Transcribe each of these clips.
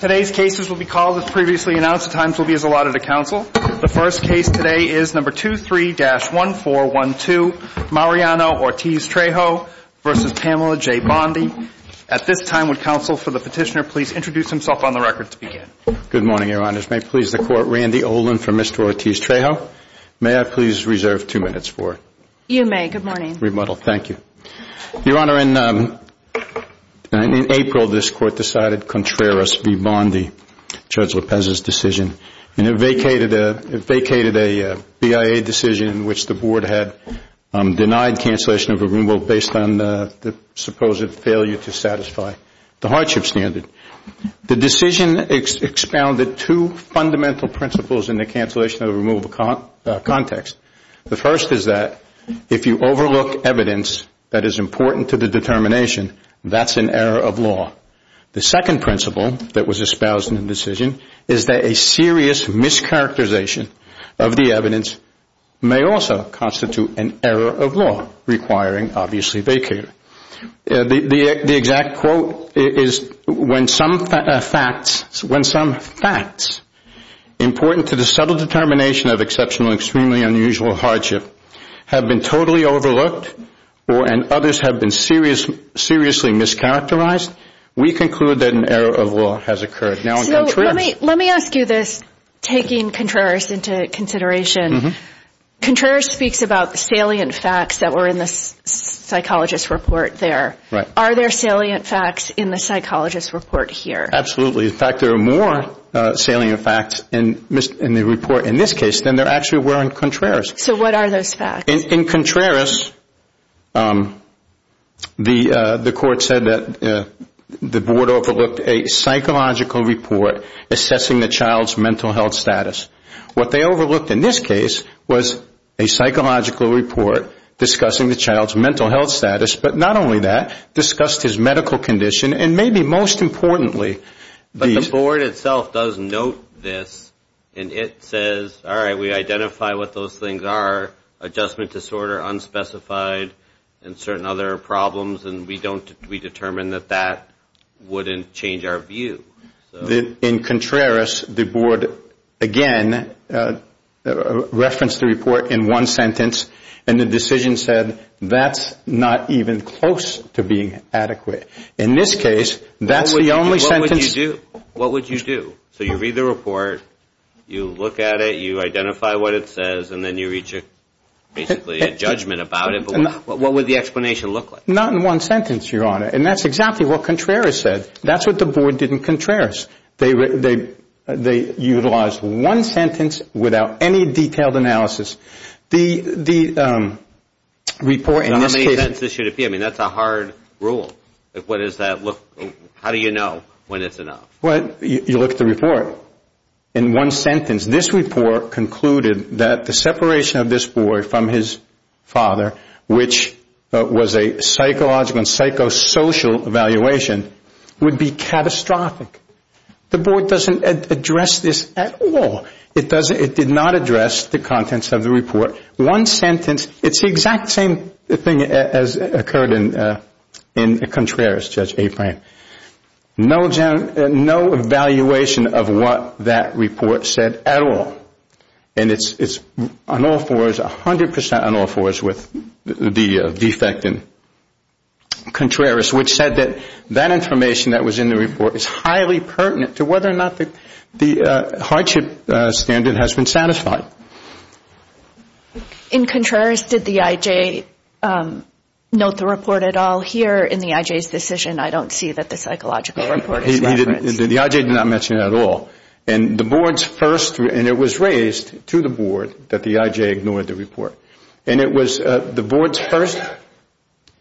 Today's cases will be called as previously announced. The times will be as allotted to counsel. The first case today is No. 23-1412, Mariano Ortiz Trejo v. Pamela J. Bondi. At this time, would counsel for the petitioner please introduce himself on the record to begin. Good morning, Your Honors. May it please the Court, Randy Olin for Mr. Ortiz Trejo. May I please reserve two minutes for it? You may. Good morning. Thank you. Your Honor, in April this Court decided Contreras v. Bondi, Judge Lopez's decision, and it vacated a BIA decision in which the Board had denied cancellation of a removal based on the supposed failure to satisfy the hardship standard. The decision expounded two fundamental principles in the cancellation of a removal context. The first is that if you overlook evidence that is important to the determination, that's an error of law. The second principle that was espoused in the decision is that a serious mischaracterization of the evidence may also constitute an error of law, requiring obviously vacate. The exact quote is, when some facts important to the subtle determination of exceptional and extremely unusual hardship have been totally overlooked and others have been seriously mischaracterized, we conclude that an error of law has occurred. Let me ask you this, taking Contreras into consideration. Contreras speaks about salient facts that were in the psychologist's report there. Are there salient facts in the psychologist's report here? Absolutely. In fact, there are more salient facts in the report in this case than there actually were in Contreras. So what are those facts? In Contreras, the court said that the board overlooked a psychological report assessing the child's mental health status. What they overlooked in this case was a psychological report discussing the child's mental health status, but not only that, discussed his medical condition and maybe most importantly... But the board itself does note this, and it says, all right, we identify what those things are, adjustment disorder, unspecified, and certain other problems, and we determine that that wouldn't change our view. In Contreras, the board again referenced the report in one sentence, and the decision said that's not even close to being adequate. In this case, that's the only sentence... What would you do? What would you do? So you read the report, you look at it, you identify what it says, and then you reach basically a judgment about it, but what would the explanation look like? Not in one sentence, Your Honor, and that's exactly what Contreras said. That's what the board did in Contreras. They utilized one sentence without any detailed analysis. The report in this case... How do you know when it's enough? Well, you look at the report. In one sentence, this report concluded that the separation of this boy from his father, which was a psychological and psychosocial evaluation, would be catastrophic. The board doesn't address this at all. It did not address the contents of the report. One sentence, it's the exact same thing as occurred in Contreras, Judge Apran. No evaluation of what that report said at all, and it's on all fours, 100 percent on all fours with the defect in Contreras, which said that that information that was in the report is highly pertinent to whether or not the hardship standard has been satisfied. In Contreras, did the I.J. note the report at all? Here in the I.J.'s decision, I don't see that the psychological report is referenced. The I.J. did not mention it at all. And the board's first... And it was raised to the board that the I.J. ignored the report. And it was the board's first...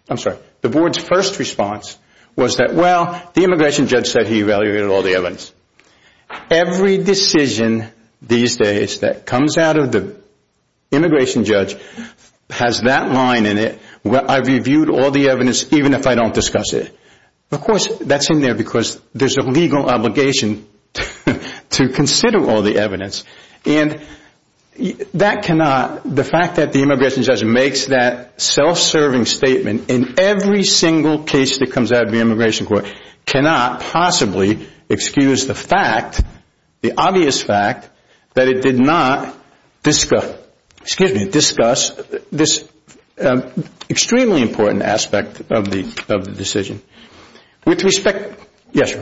I'm sorry. The board's first response was that, well, the immigration judge said he evaluated all the evidence. Every decision these days that comes out of the immigration judge has that line in it, where I've reviewed all the evidence even if I don't discuss it. Of course, that's in there because there's a legal obligation to consider all the evidence. And that cannot... The fact that the immigration judge makes that self-serving statement in every single case that comes out of the immigration court cannot possibly excuse the fact, the obvious fact, that it did not discuss this extremely important aspect of the decision. With respect... Yes.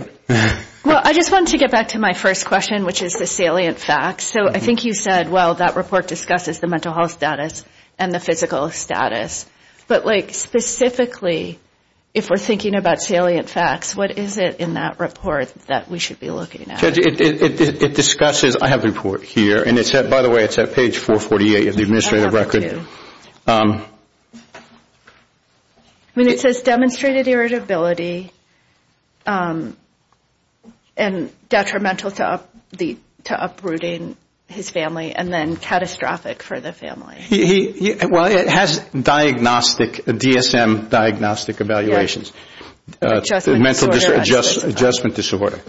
Well, I just wanted to get back to my first question, which is the salient facts. So I think you said, well, that report discusses the mental health status and the physical status. But, like, specifically, if we're thinking about salient facts, what is it in that report that we should be looking at? Judge, it discusses... I have the report here, and it's at, by the way, it's at page 448 of the administrative record. I mean, it says demonstrated irritability and detrimental to uprooting his family and then catastrophic for the family. Well, it has diagnostic, DSM diagnostic evaluations. Adjustment disorder.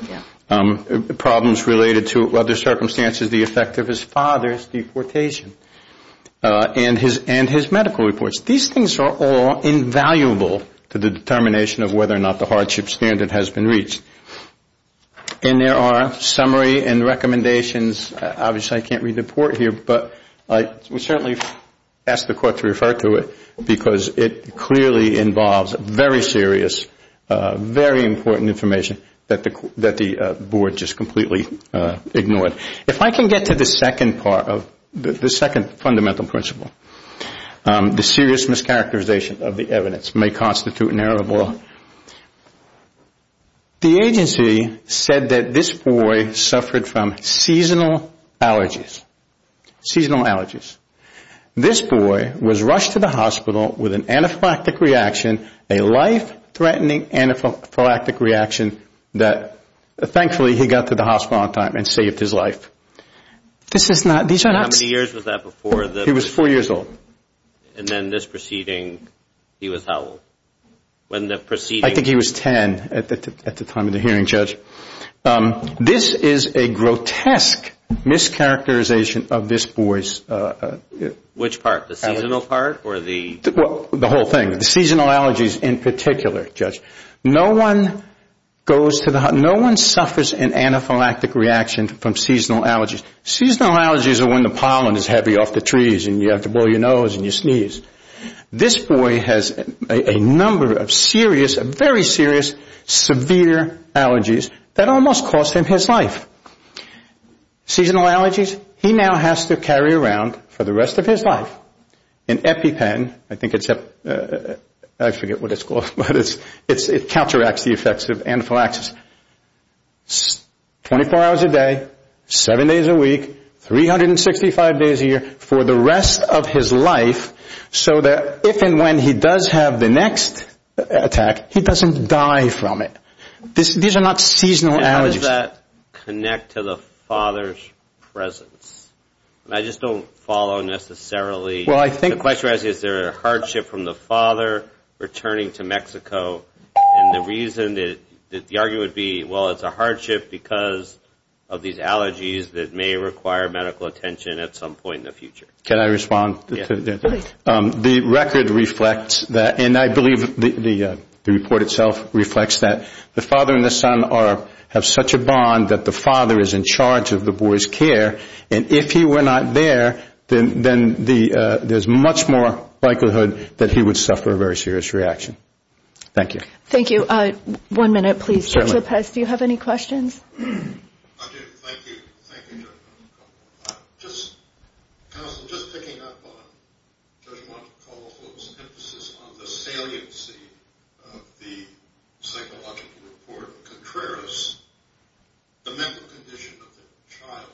Problems related to other circumstances, the effect of his father's deportation and his medical reports. These things are all invaluable to the determination of whether or not the hardship standard has been reached. And there are summary and recommendations. Obviously, I can't read the report here, but we certainly ask the court to refer to it, because it clearly involves very serious, very important information that the board just completely ignored. If I can get to the second part of the second fundamental principle, the serious mischaracterization of the evidence may constitute an error of law. The agency said that this boy suffered from seasonal allergies, seasonal allergies. This boy was rushed to the hospital with an anaphylactic reaction, a life-threatening anaphylactic reaction, that thankfully he got to the hospital on time and saved his life. This is not... How many years was that before? He was four years old. And then this proceeding, he was how old? I think he was 10 at the time of the hearing, Judge. This is a grotesque mischaracterization of this boy's... Which part, the seasonal part or the... The whole thing, the seasonal allergies in particular, Judge. No one goes to the hospital, no one suffers an anaphylactic reaction from seasonal allergies. Seasonal allergies are when the pollen is heavy off the trees and you have to blow your nose and you sneeze. This boy has a number of serious, very serious, severe allergies that almost cost him his life. Seasonal allergies, he now has to carry around for the rest of his life an EpiPen. I think it's... I forget what it's called, but it counteracts the effects of anaphylaxis. Twenty-four hours a day, seven days a week, 365 days a year for the rest of his life so that if and when he does have the next attack, he doesn't die from it. These are not seasonal allergies. How does that connect to the father's presence? I just don't follow necessarily... Well, I think... The question is, is there a hardship from the father returning to Mexico? And the reason, the argument would be, well, it's a hardship because of these allergies that may require medical attention at some point in the future. Can I respond? Yes, please. The record reflects that, and I believe the report itself reflects that. The father and the son have such a bond that the father is in charge of the boy's care, and if he were not there, then there's much more likelihood that he would suffer a very serious reaction. Thank you. Thank you. One minute, please. Dr. Lopez, do you have any questions? I do. Thank you. Thank you, Judge Montecalvo. Counsel, just picking up on Judge Montecalvo's emphasis on the saliency of the psychological report of Contreras, the mental condition of the child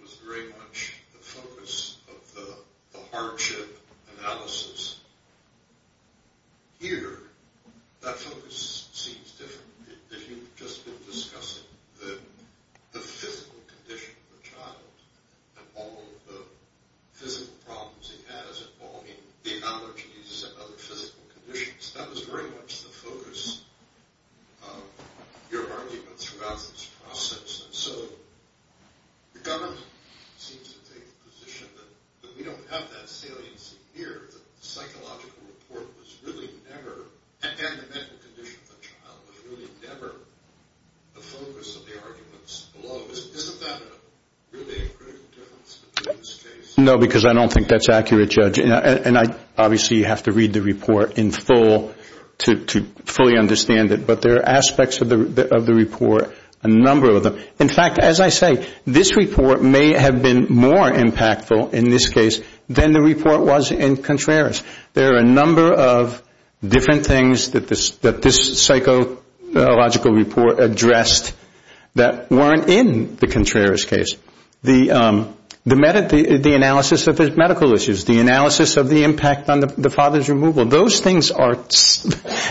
was very much the focus of the hardship analysis. Here, that focus seems different. If you've just been discussing the physical condition of the child and all of the physical problems he has involving the allergies and other physical conditions, that was very much the focus of your arguments throughout this process. And so the government seems to take the position that we don't have that saliency here, that the psychological report was really never, and the mental condition of the child, was really never the focus of the arguments below. Isn't that really a critical difference in this case? No, because I don't think that's accurate, Judge. And I obviously have to read the report in full to fully understand it, but there are aspects of the report, a number of them. In fact, as I say, this report may have been more impactful in this case than the report was in Contreras. There are a number of different things that this psychological report addressed that weren't in the Contreras case. The analysis of his medical issues, the analysis of the impact on the father's removal, those things are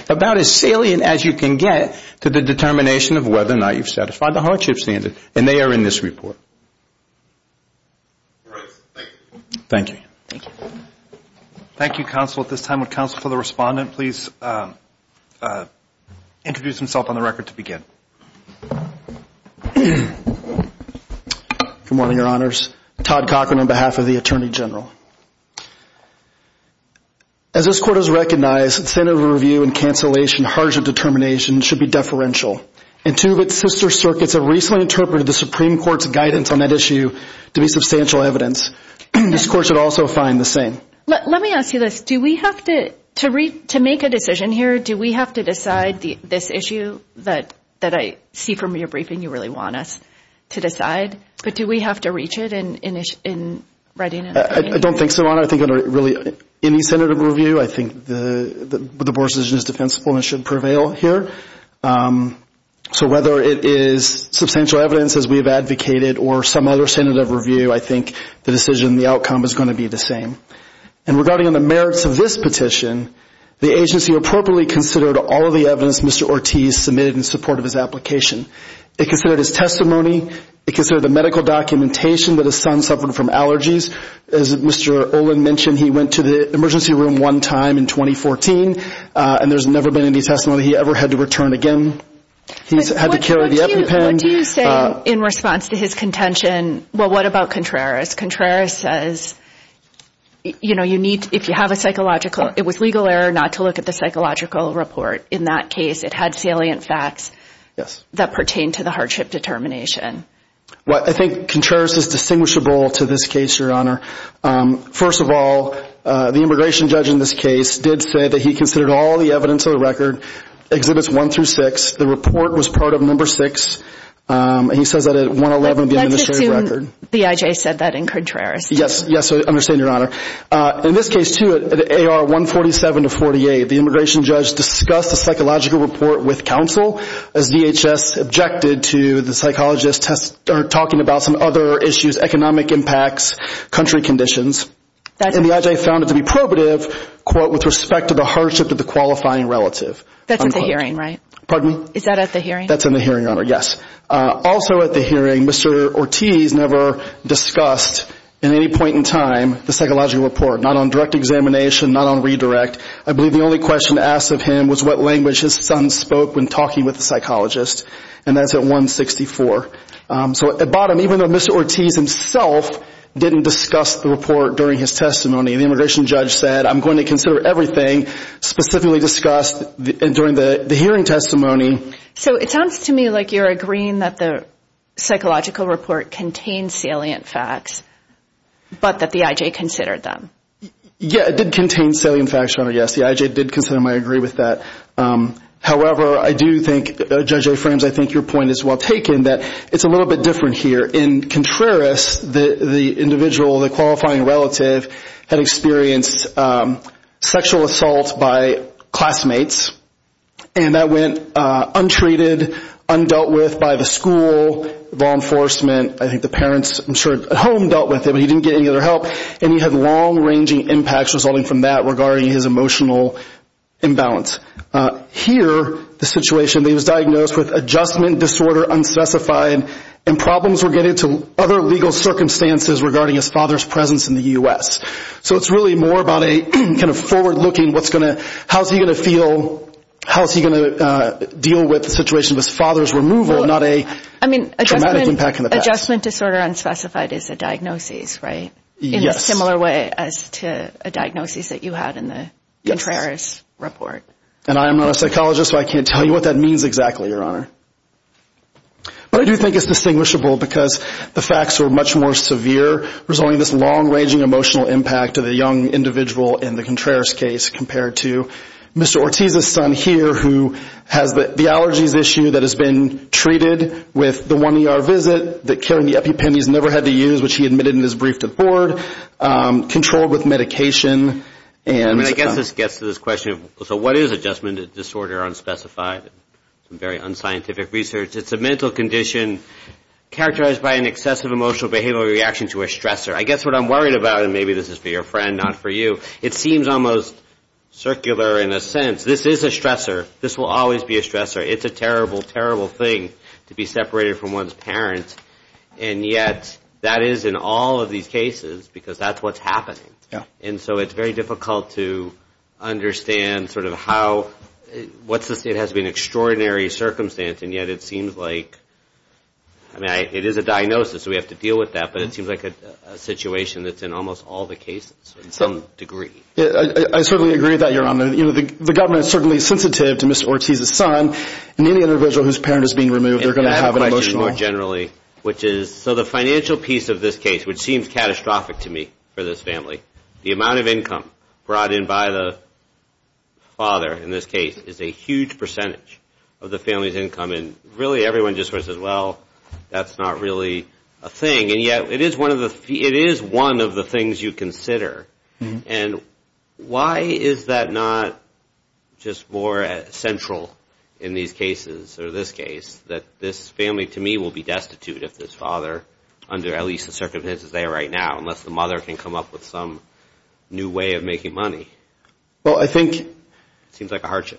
about as salient as you can get to the determination of whether or not you've satisfied the hardship standard, and they are in this report. Thank you. Thank you, Counsel. At this time, would Counsel for the Respondent please introduce himself on the record to begin? Good morning, Your Honors. Todd Cochran on behalf of the Attorney General. As this Court has recognized, incentive of review and cancellation, hardship determination should be deferential. And two of its sister circuits have recently interpreted the Supreme Court's guidance on that issue to be substantial evidence. This Court should also find the same. Let me ask you this. To make a decision here, do we have to decide this issue that I see from your briefing, you really want us to decide, but do we have to reach it in writing? I don't think so, Your Honor. I think under any incentive of review, I think the Board's decision is defensible and it should prevail here. So whether it is substantial evidence, as we have advocated, or some other incentive of review, I think the decision, the outcome is going to be the same. And regarding the merits of this petition, the agency appropriately considered all of the evidence Mr. Ortiz submitted in support of his application. It considered his testimony. It considered the medical documentation that his son suffered from allergies. As Mr. Olin mentioned, he went to the emergency room one time in 2014, and there's never been any testimony he ever had to return again. He's had to carry the EpiPen. What do you say in response to his contention? Well, what about Contreras? Contreras says, you know, you need, if you have a psychological, it was legal error not to look at the psychological report. In that case, it had salient facts that pertain to the hardship determination. Well, I think Contreras is distinguishable to this case, Your Honor. First of all, the immigration judge in this case did say that he considered all the evidence of the record, Exhibits 1 through 6. The report was part of Number 6. He says that at 111, the administrative record. Let's assume BIJ said that in Contreras. Yes, yes, I understand, Your Honor. In this case, too, at AR 147 to 48, the immigration judge discussed the psychological report with counsel, as DHS objected to the psychologist talking about some other issues, economic impacts, country conditions. And the IJ found it to be probative, quote, with respect to the hardship of the qualifying relative. That's at the hearing, right? Pardon? Is that at the hearing? That's in the hearing, Your Honor. Yes. Also at the hearing, Mr. Ortiz never discussed in any point in time the psychological report, not on direct examination, not on redirect. I believe the only question asked of him was what language his son spoke when talking with the psychologist. And that's at 164. So at the bottom, even though Mr. Ortiz himself didn't discuss the report during his testimony, the immigration judge said, I'm going to consider everything specifically discussed during the hearing testimony. So it sounds to me like you're agreeing that the psychological report contained salient facts, but that the IJ considered them. Yeah, it did contain salient facts, Your Honor, yes. The IJ did consider them. I agree with that. However, I do think, Judge Aframes, I think your point is well taken, that it's a little bit different here. In Contreras, the individual, the qualifying relative, had experienced sexual assault by classmates, and that went untreated, undealt with by the school, law enforcement. I think the parents, I'm sure, at home dealt with it, but he didn't get any other help. And he had long-ranging impacts resulting from that regarding his emotional imbalance. Here, the situation, he was diagnosed with adjustment disorder unspecified, and problems were getting to other legal circumstances regarding his father's presence in the U.S. So it's really more about a kind of forward-looking, how's he going to feel, how's he going to deal with the situation of his father's removal, not a traumatic impact in the past. Adjustment disorder unspecified is a diagnosis, right? Yes. In a similar way as to a diagnosis that you had in the Contreras report. And I am not a psychologist, so I can't tell you what that means exactly, Your Honor. But I do think it's distinguishable because the facts are much more severe. There's only this long-ranging emotional impact of the young individual in the Contreras case compared to Mr. Ortiz's son here who has the allergies issue that has been treated with the one ER visit, that killing the epipenis never had to use, which he admitted in his brief to the board, controlled with medication. And I guess this gets to this question of, so what is adjustment disorder unspecified? Some very unscientific research. It's a mental condition characterized by an excessive emotional behavioral reaction to a stressor. I guess what I'm worried about, and maybe this is for your friend, not for you, it seems almost circular in a sense. This is a stressor. This will always be a stressor. It's a terrible, terrible thing to be separated from one's parent. And yet that is in all of these cases because that's what's happening. And so it's very difficult to understand sort of how, what's the state has been extraordinary circumstance, and yet it seems like, I mean, it is a diagnosis, so we have to deal with that, but it seems like a situation that's in almost all the cases to some degree. I certainly agree with that, Your Honor. You know, the government is certainly sensitive to Mr. Ortiz's son, and any individual whose parent is being removed, they're going to have an emotional. More generally, which is, so the financial piece of this case, which seems catastrophic to me for this family, the amount of income brought in by the father in this case is a huge percentage of the family's income, and really everyone just sort of says, well, that's not really a thing. And yet it is one of the things you consider. And why is that not just more central in these cases or this case, that this family to me will be destitute if this father, under at least the circumstances they are right now, unless the mother can come up with some new way of making money? Well, I think the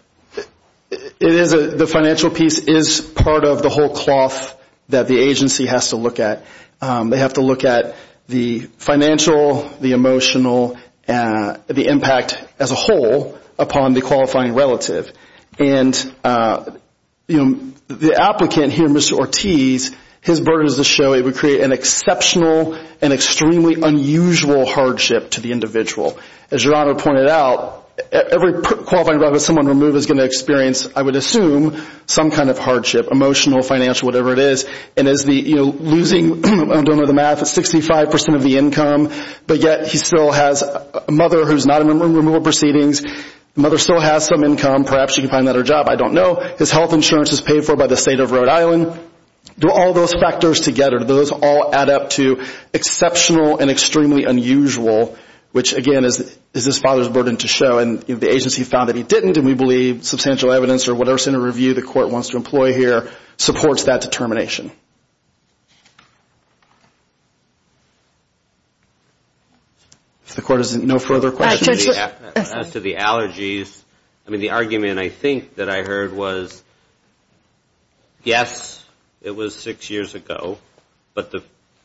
financial piece is part of the whole cloth that the agency has to look at. They have to look at the financial, the emotional, the impact as a whole upon the qualifying relative. And, you know, the applicant here, Mr. Ortiz, his burden is to show he would create an exceptional and extremely unusual hardship to the individual. As Your Honor pointed out, every qualifying relative someone removes is going to experience, I would assume, some kind of hardship, emotional, financial, whatever it is. And as the, you know, losing, I don't know the math, it's 65% of the income, but yet he still has a mother who's not in removal proceedings. The mother still has some income. Perhaps she can find another job. I don't know. His health insurance is paid for by the state of Rhode Island. Do all those factors together, do those all add up to exceptional and extremely unusual, which, again, is this father's burden to show? And the agency found that he didn't, and we believe substantial evidence or whatever center review the court wants to employ here supports that determination. If the court has no further questions. As to the allergies, I mean, the argument, I think, that I heard was, yes, it was six years ago, but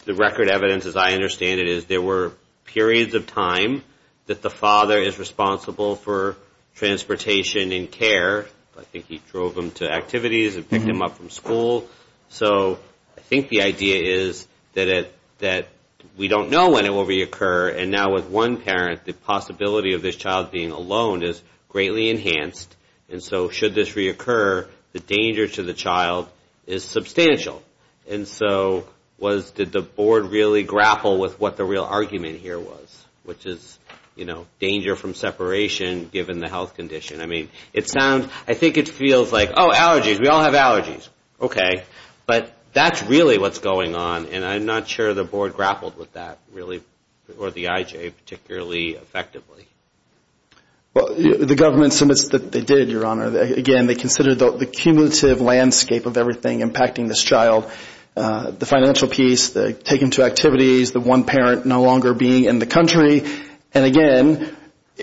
the record evidence, as I understand it, is there were periods of time that the father is responsible for transportation and care. I think he drove him to activities and picked him up from school. So I think the idea is that we don't know when it will reoccur. And now with one parent, the possibility of this child being alone is greatly enhanced. And so should this reoccur, the danger to the child is substantial. And so did the board really grapple with what the real argument here was, which is, you know, danger from separation given the health condition. I mean, it sounds, I think it feels like, oh, allergies, we all have allergies. Okay. But that's really what's going on, and I'm not sure the board grappled with that really, or the IJ particularly effectively. Well, the government submits that they did, Your Honor. Again, they considered the cumulative landscape of everything impacting this child, the financial piece, the take him to activities, the one parent no longer being in the country. And, again,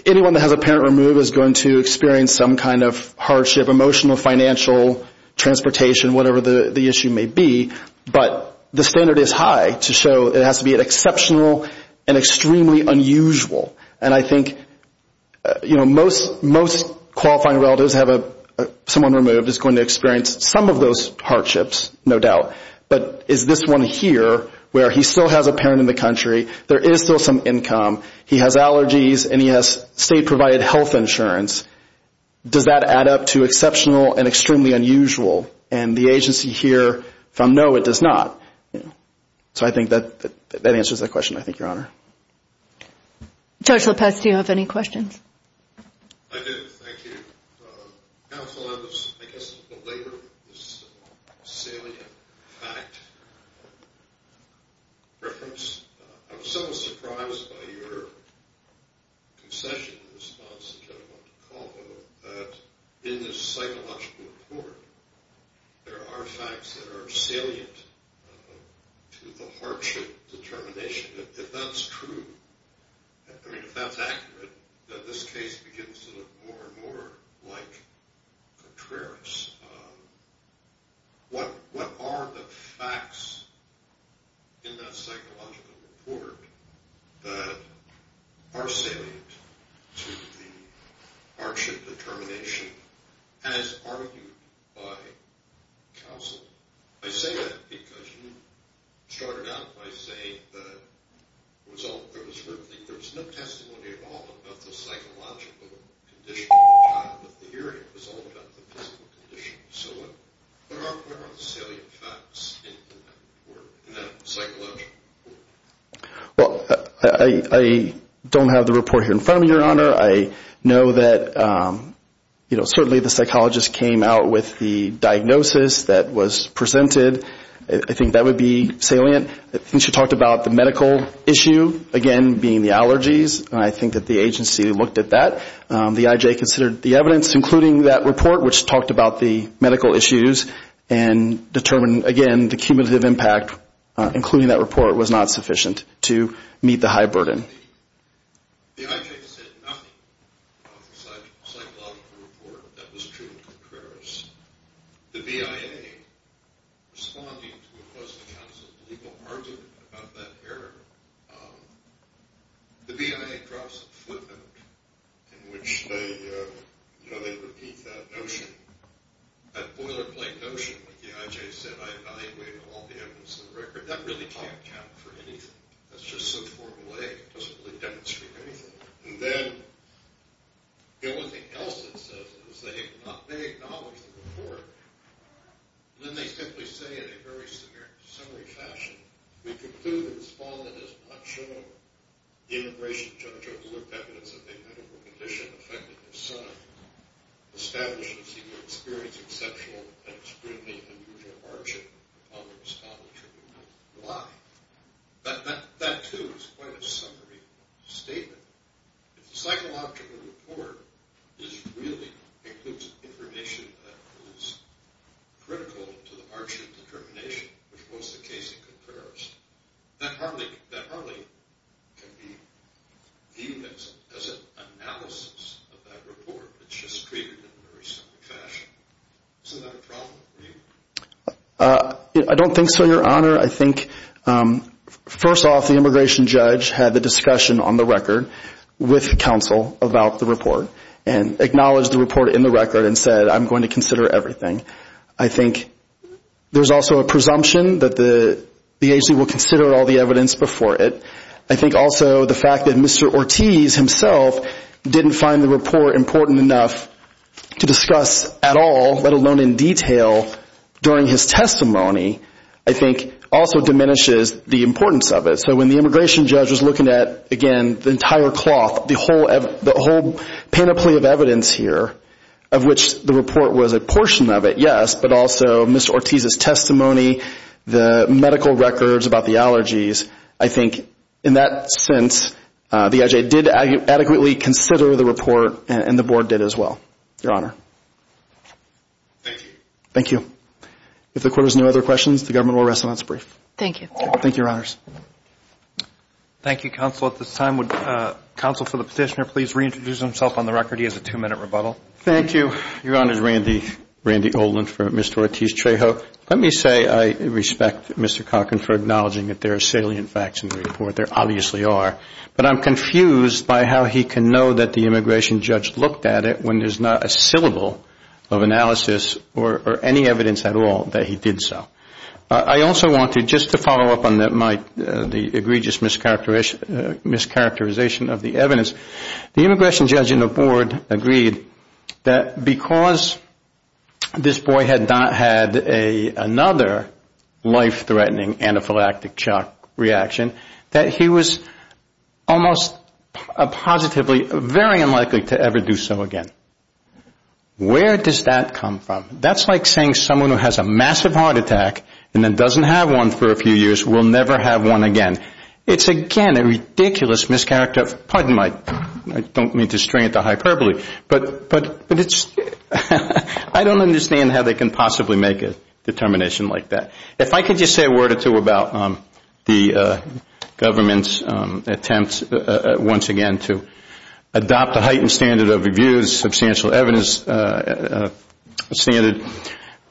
anyone that has a parent removed is going to experience some kind of hardship, emotional, financial, transportation, whatever the issue may be. But the standard is high to show it has to be an exceptional and extremely unusual. And I think, you know, most qualifying relatives have someone removed is going to experience some of those hardships, no doubt. But is this one here where he still has a parent in the country, there is still some income, he has allergies, and he has state-provided health insurance, does that add up to exceptional and extremely unusual? And the agency here from no, it does not. So I think that answers that question, I think, Your Honor. Judge Lopez, do you have any questions? I do, thank you. Counsel, I was, I guess, belabored this salient fact reference. I was somewhat surprised by your concession response, which I don't want to call it, that in the psychological report, there are facts that are salient to the hardship determination. If that's true, I mean, if that's accurate, then this case begins to look more and more like Contreras. What are the facts in that psychological report that are salient to the hardship determination, as argued by counsel? I say that because you started out by saying that there was no testimony at all about the psychological condition of the child with the hearing. It was all about the physical condition. So what are the salient facts in that report, in that psychological report? Well, I don't have the report here in front of me, Your Honor. I know that, you know, certainly the psychologist came out with the diagnosis that was presented. I think that would be salient. Since you talked about the medical issue, again, being the allergies, I think that the agency looked at that. The IJ considered the evidence, including that report, which talked about the medical issues and determined, again, the cumulative impact, including that report, was not sufficient to meet the high burden. The IJ said nothing of the psychological report that was true of Contreras. The BIA, responding to what was the counsel's legal argument about that error, the BIA drops a footnote in which they repeat that notion, that boilerplate notion that the IJ said, I evaluated all the evidence in the record. That really can't count for anything. That's just so Formal A. It doesn't really demonstrate anything. And then the only thing else it says is they acknowledge the report, and then they simply say in a very summary fashion, we conclude that the respondent is not sure the immigration judge overlooked evidence that they had of a condition affecting their son established since he would experience exceptional and extremely unusual hardship upon the respondent. Why? That, too, is quite a summary statement. If the psychological report really includes information that is critical to the hardship determination, which was the case in Contreras, that hardly can be viewed as an analysis of that report. It's just treated in a very simple fashion. Isn't that a problem for you? I don't think so, Your Honor. I think, first off, the immigration judge had the discussion on the record with counsel about the report and acknowledged the report in the record and said, I'm going to consider everything. I think there's also a presumption that the agency will consider all the evidence before it. I think also the fact that Mr. Ortiz himself didn't find the report important enough to discuss at all, let alone in detail during his testimony, I think also diminishes the importance of it. So when the immigration judge was looking at, again, the entire cloth, the whole panoply of evidence here of which the report was a portion of it, yes, but also Mr. Ortiz's testimony, the medical records about the allergies, I think in that sense the IJA did adequately consider the report and the Board did as well, Your Honor. Thank you. Thank you. If the Court has no other questions, the Government will rest until it's brief. Thank you. Thank you, Your Honors. Thank you, Counsel. At this time, would Counsel for the Petitioner please reintroduce himself on the record? He has a two-minute rebuttal. Thank you. Your Honor, this is Randy Olin from Mr. Ortiz Trejo. Let me say I respect Mr. Calkin for acknowledging that there are salient facts in the report. There obviously are. But I'm confused by how he can know that the immigration judge looked at it when there's not a syllable of analysis or any evidence at all that he did so. I also want to, just to follow up on the egregious mischaracterization of the evidence, the immigration judge and the Board agreed that because this boy had not had another life-threatening anaphylactic shock reaction, that he was almost positively very unlikely to ever do so again. Where does that come from? That's like saying someone who has a massive heart attack and then doesn't have one for a few years will never have one again. It's, again, a ridiculous mischaracter. Pardon my, I don't mean to string it to hyperbole. But it's, I don't understand how they can possibly make a determination like that. If I could just say a word or two about the government's attempts once again to adopt a heightened standard of reviews, substantial evidence standard,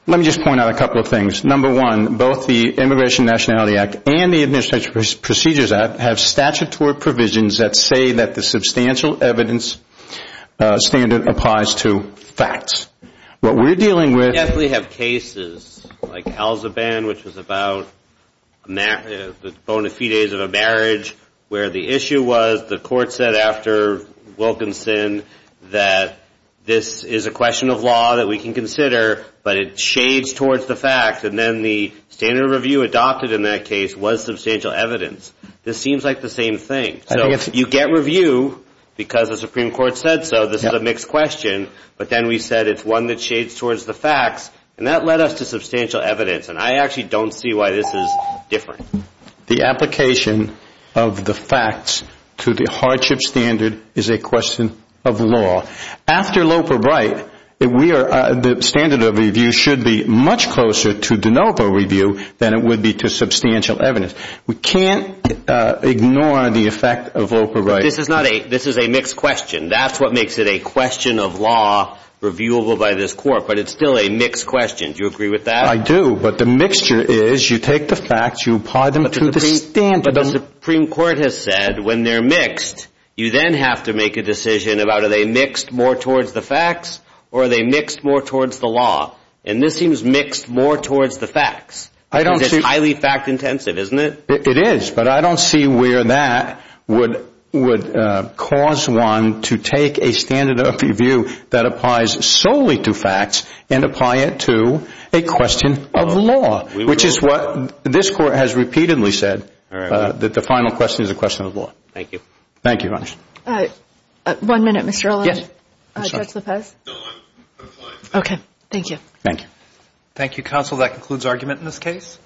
let me just point out a couple of things. Number one, both the Immigration and Nationality Act and the Administrative Procedures Act have statutory provisions that say that the substantial evidence standard applies to facts. What we're dealing with- We definitely have cases like Elzeband, which was about the bona fides of a marriage, where the issue was, the court said after Wilkinson that this is a question of law that we can consider, but it shades towards the facts. And then the standard of review adopted in that case was substantial evidence. This seems like the same thing. So you get review because the Supreme Court said so. This is a mixed question. But then we said it's one that shades towards the facts. And that led us to substantial evidence. And I actually don't see why this is different. The application of the facts to the hardship standard is a question of law. After Loper-Bright, the standard of review should be much closer to de novo review than it would be to substantial evidence. We can't ignore the effect of Loper-Bright. This is a mixed question. That's what makes it a question of law reviewable by this court. But it's still a mixed question. Do you agree with that? I do. But the mixture is you take the facts, you apply them to the standard. The Supreme Court has said when they're mixed, you then have to make a decision about are they mixed more towards the facts or are they mixed more towards the law. And this seems mixed more towards the facts. It's highly fact-intensive, isn't it? It is. But I don't see where that would cause one to take a standard of review that applies solely to facts and apply it to a question of law, which is what this court has repeatedly said, that the final question is a question of law. Thank you. Thank you, Your Honor. One minute, Mr. O'Leary. Judge Lopez? No, I'm fine. Okay. Thank you. Thank you. Thank you, counsel. That concludes argument in this case.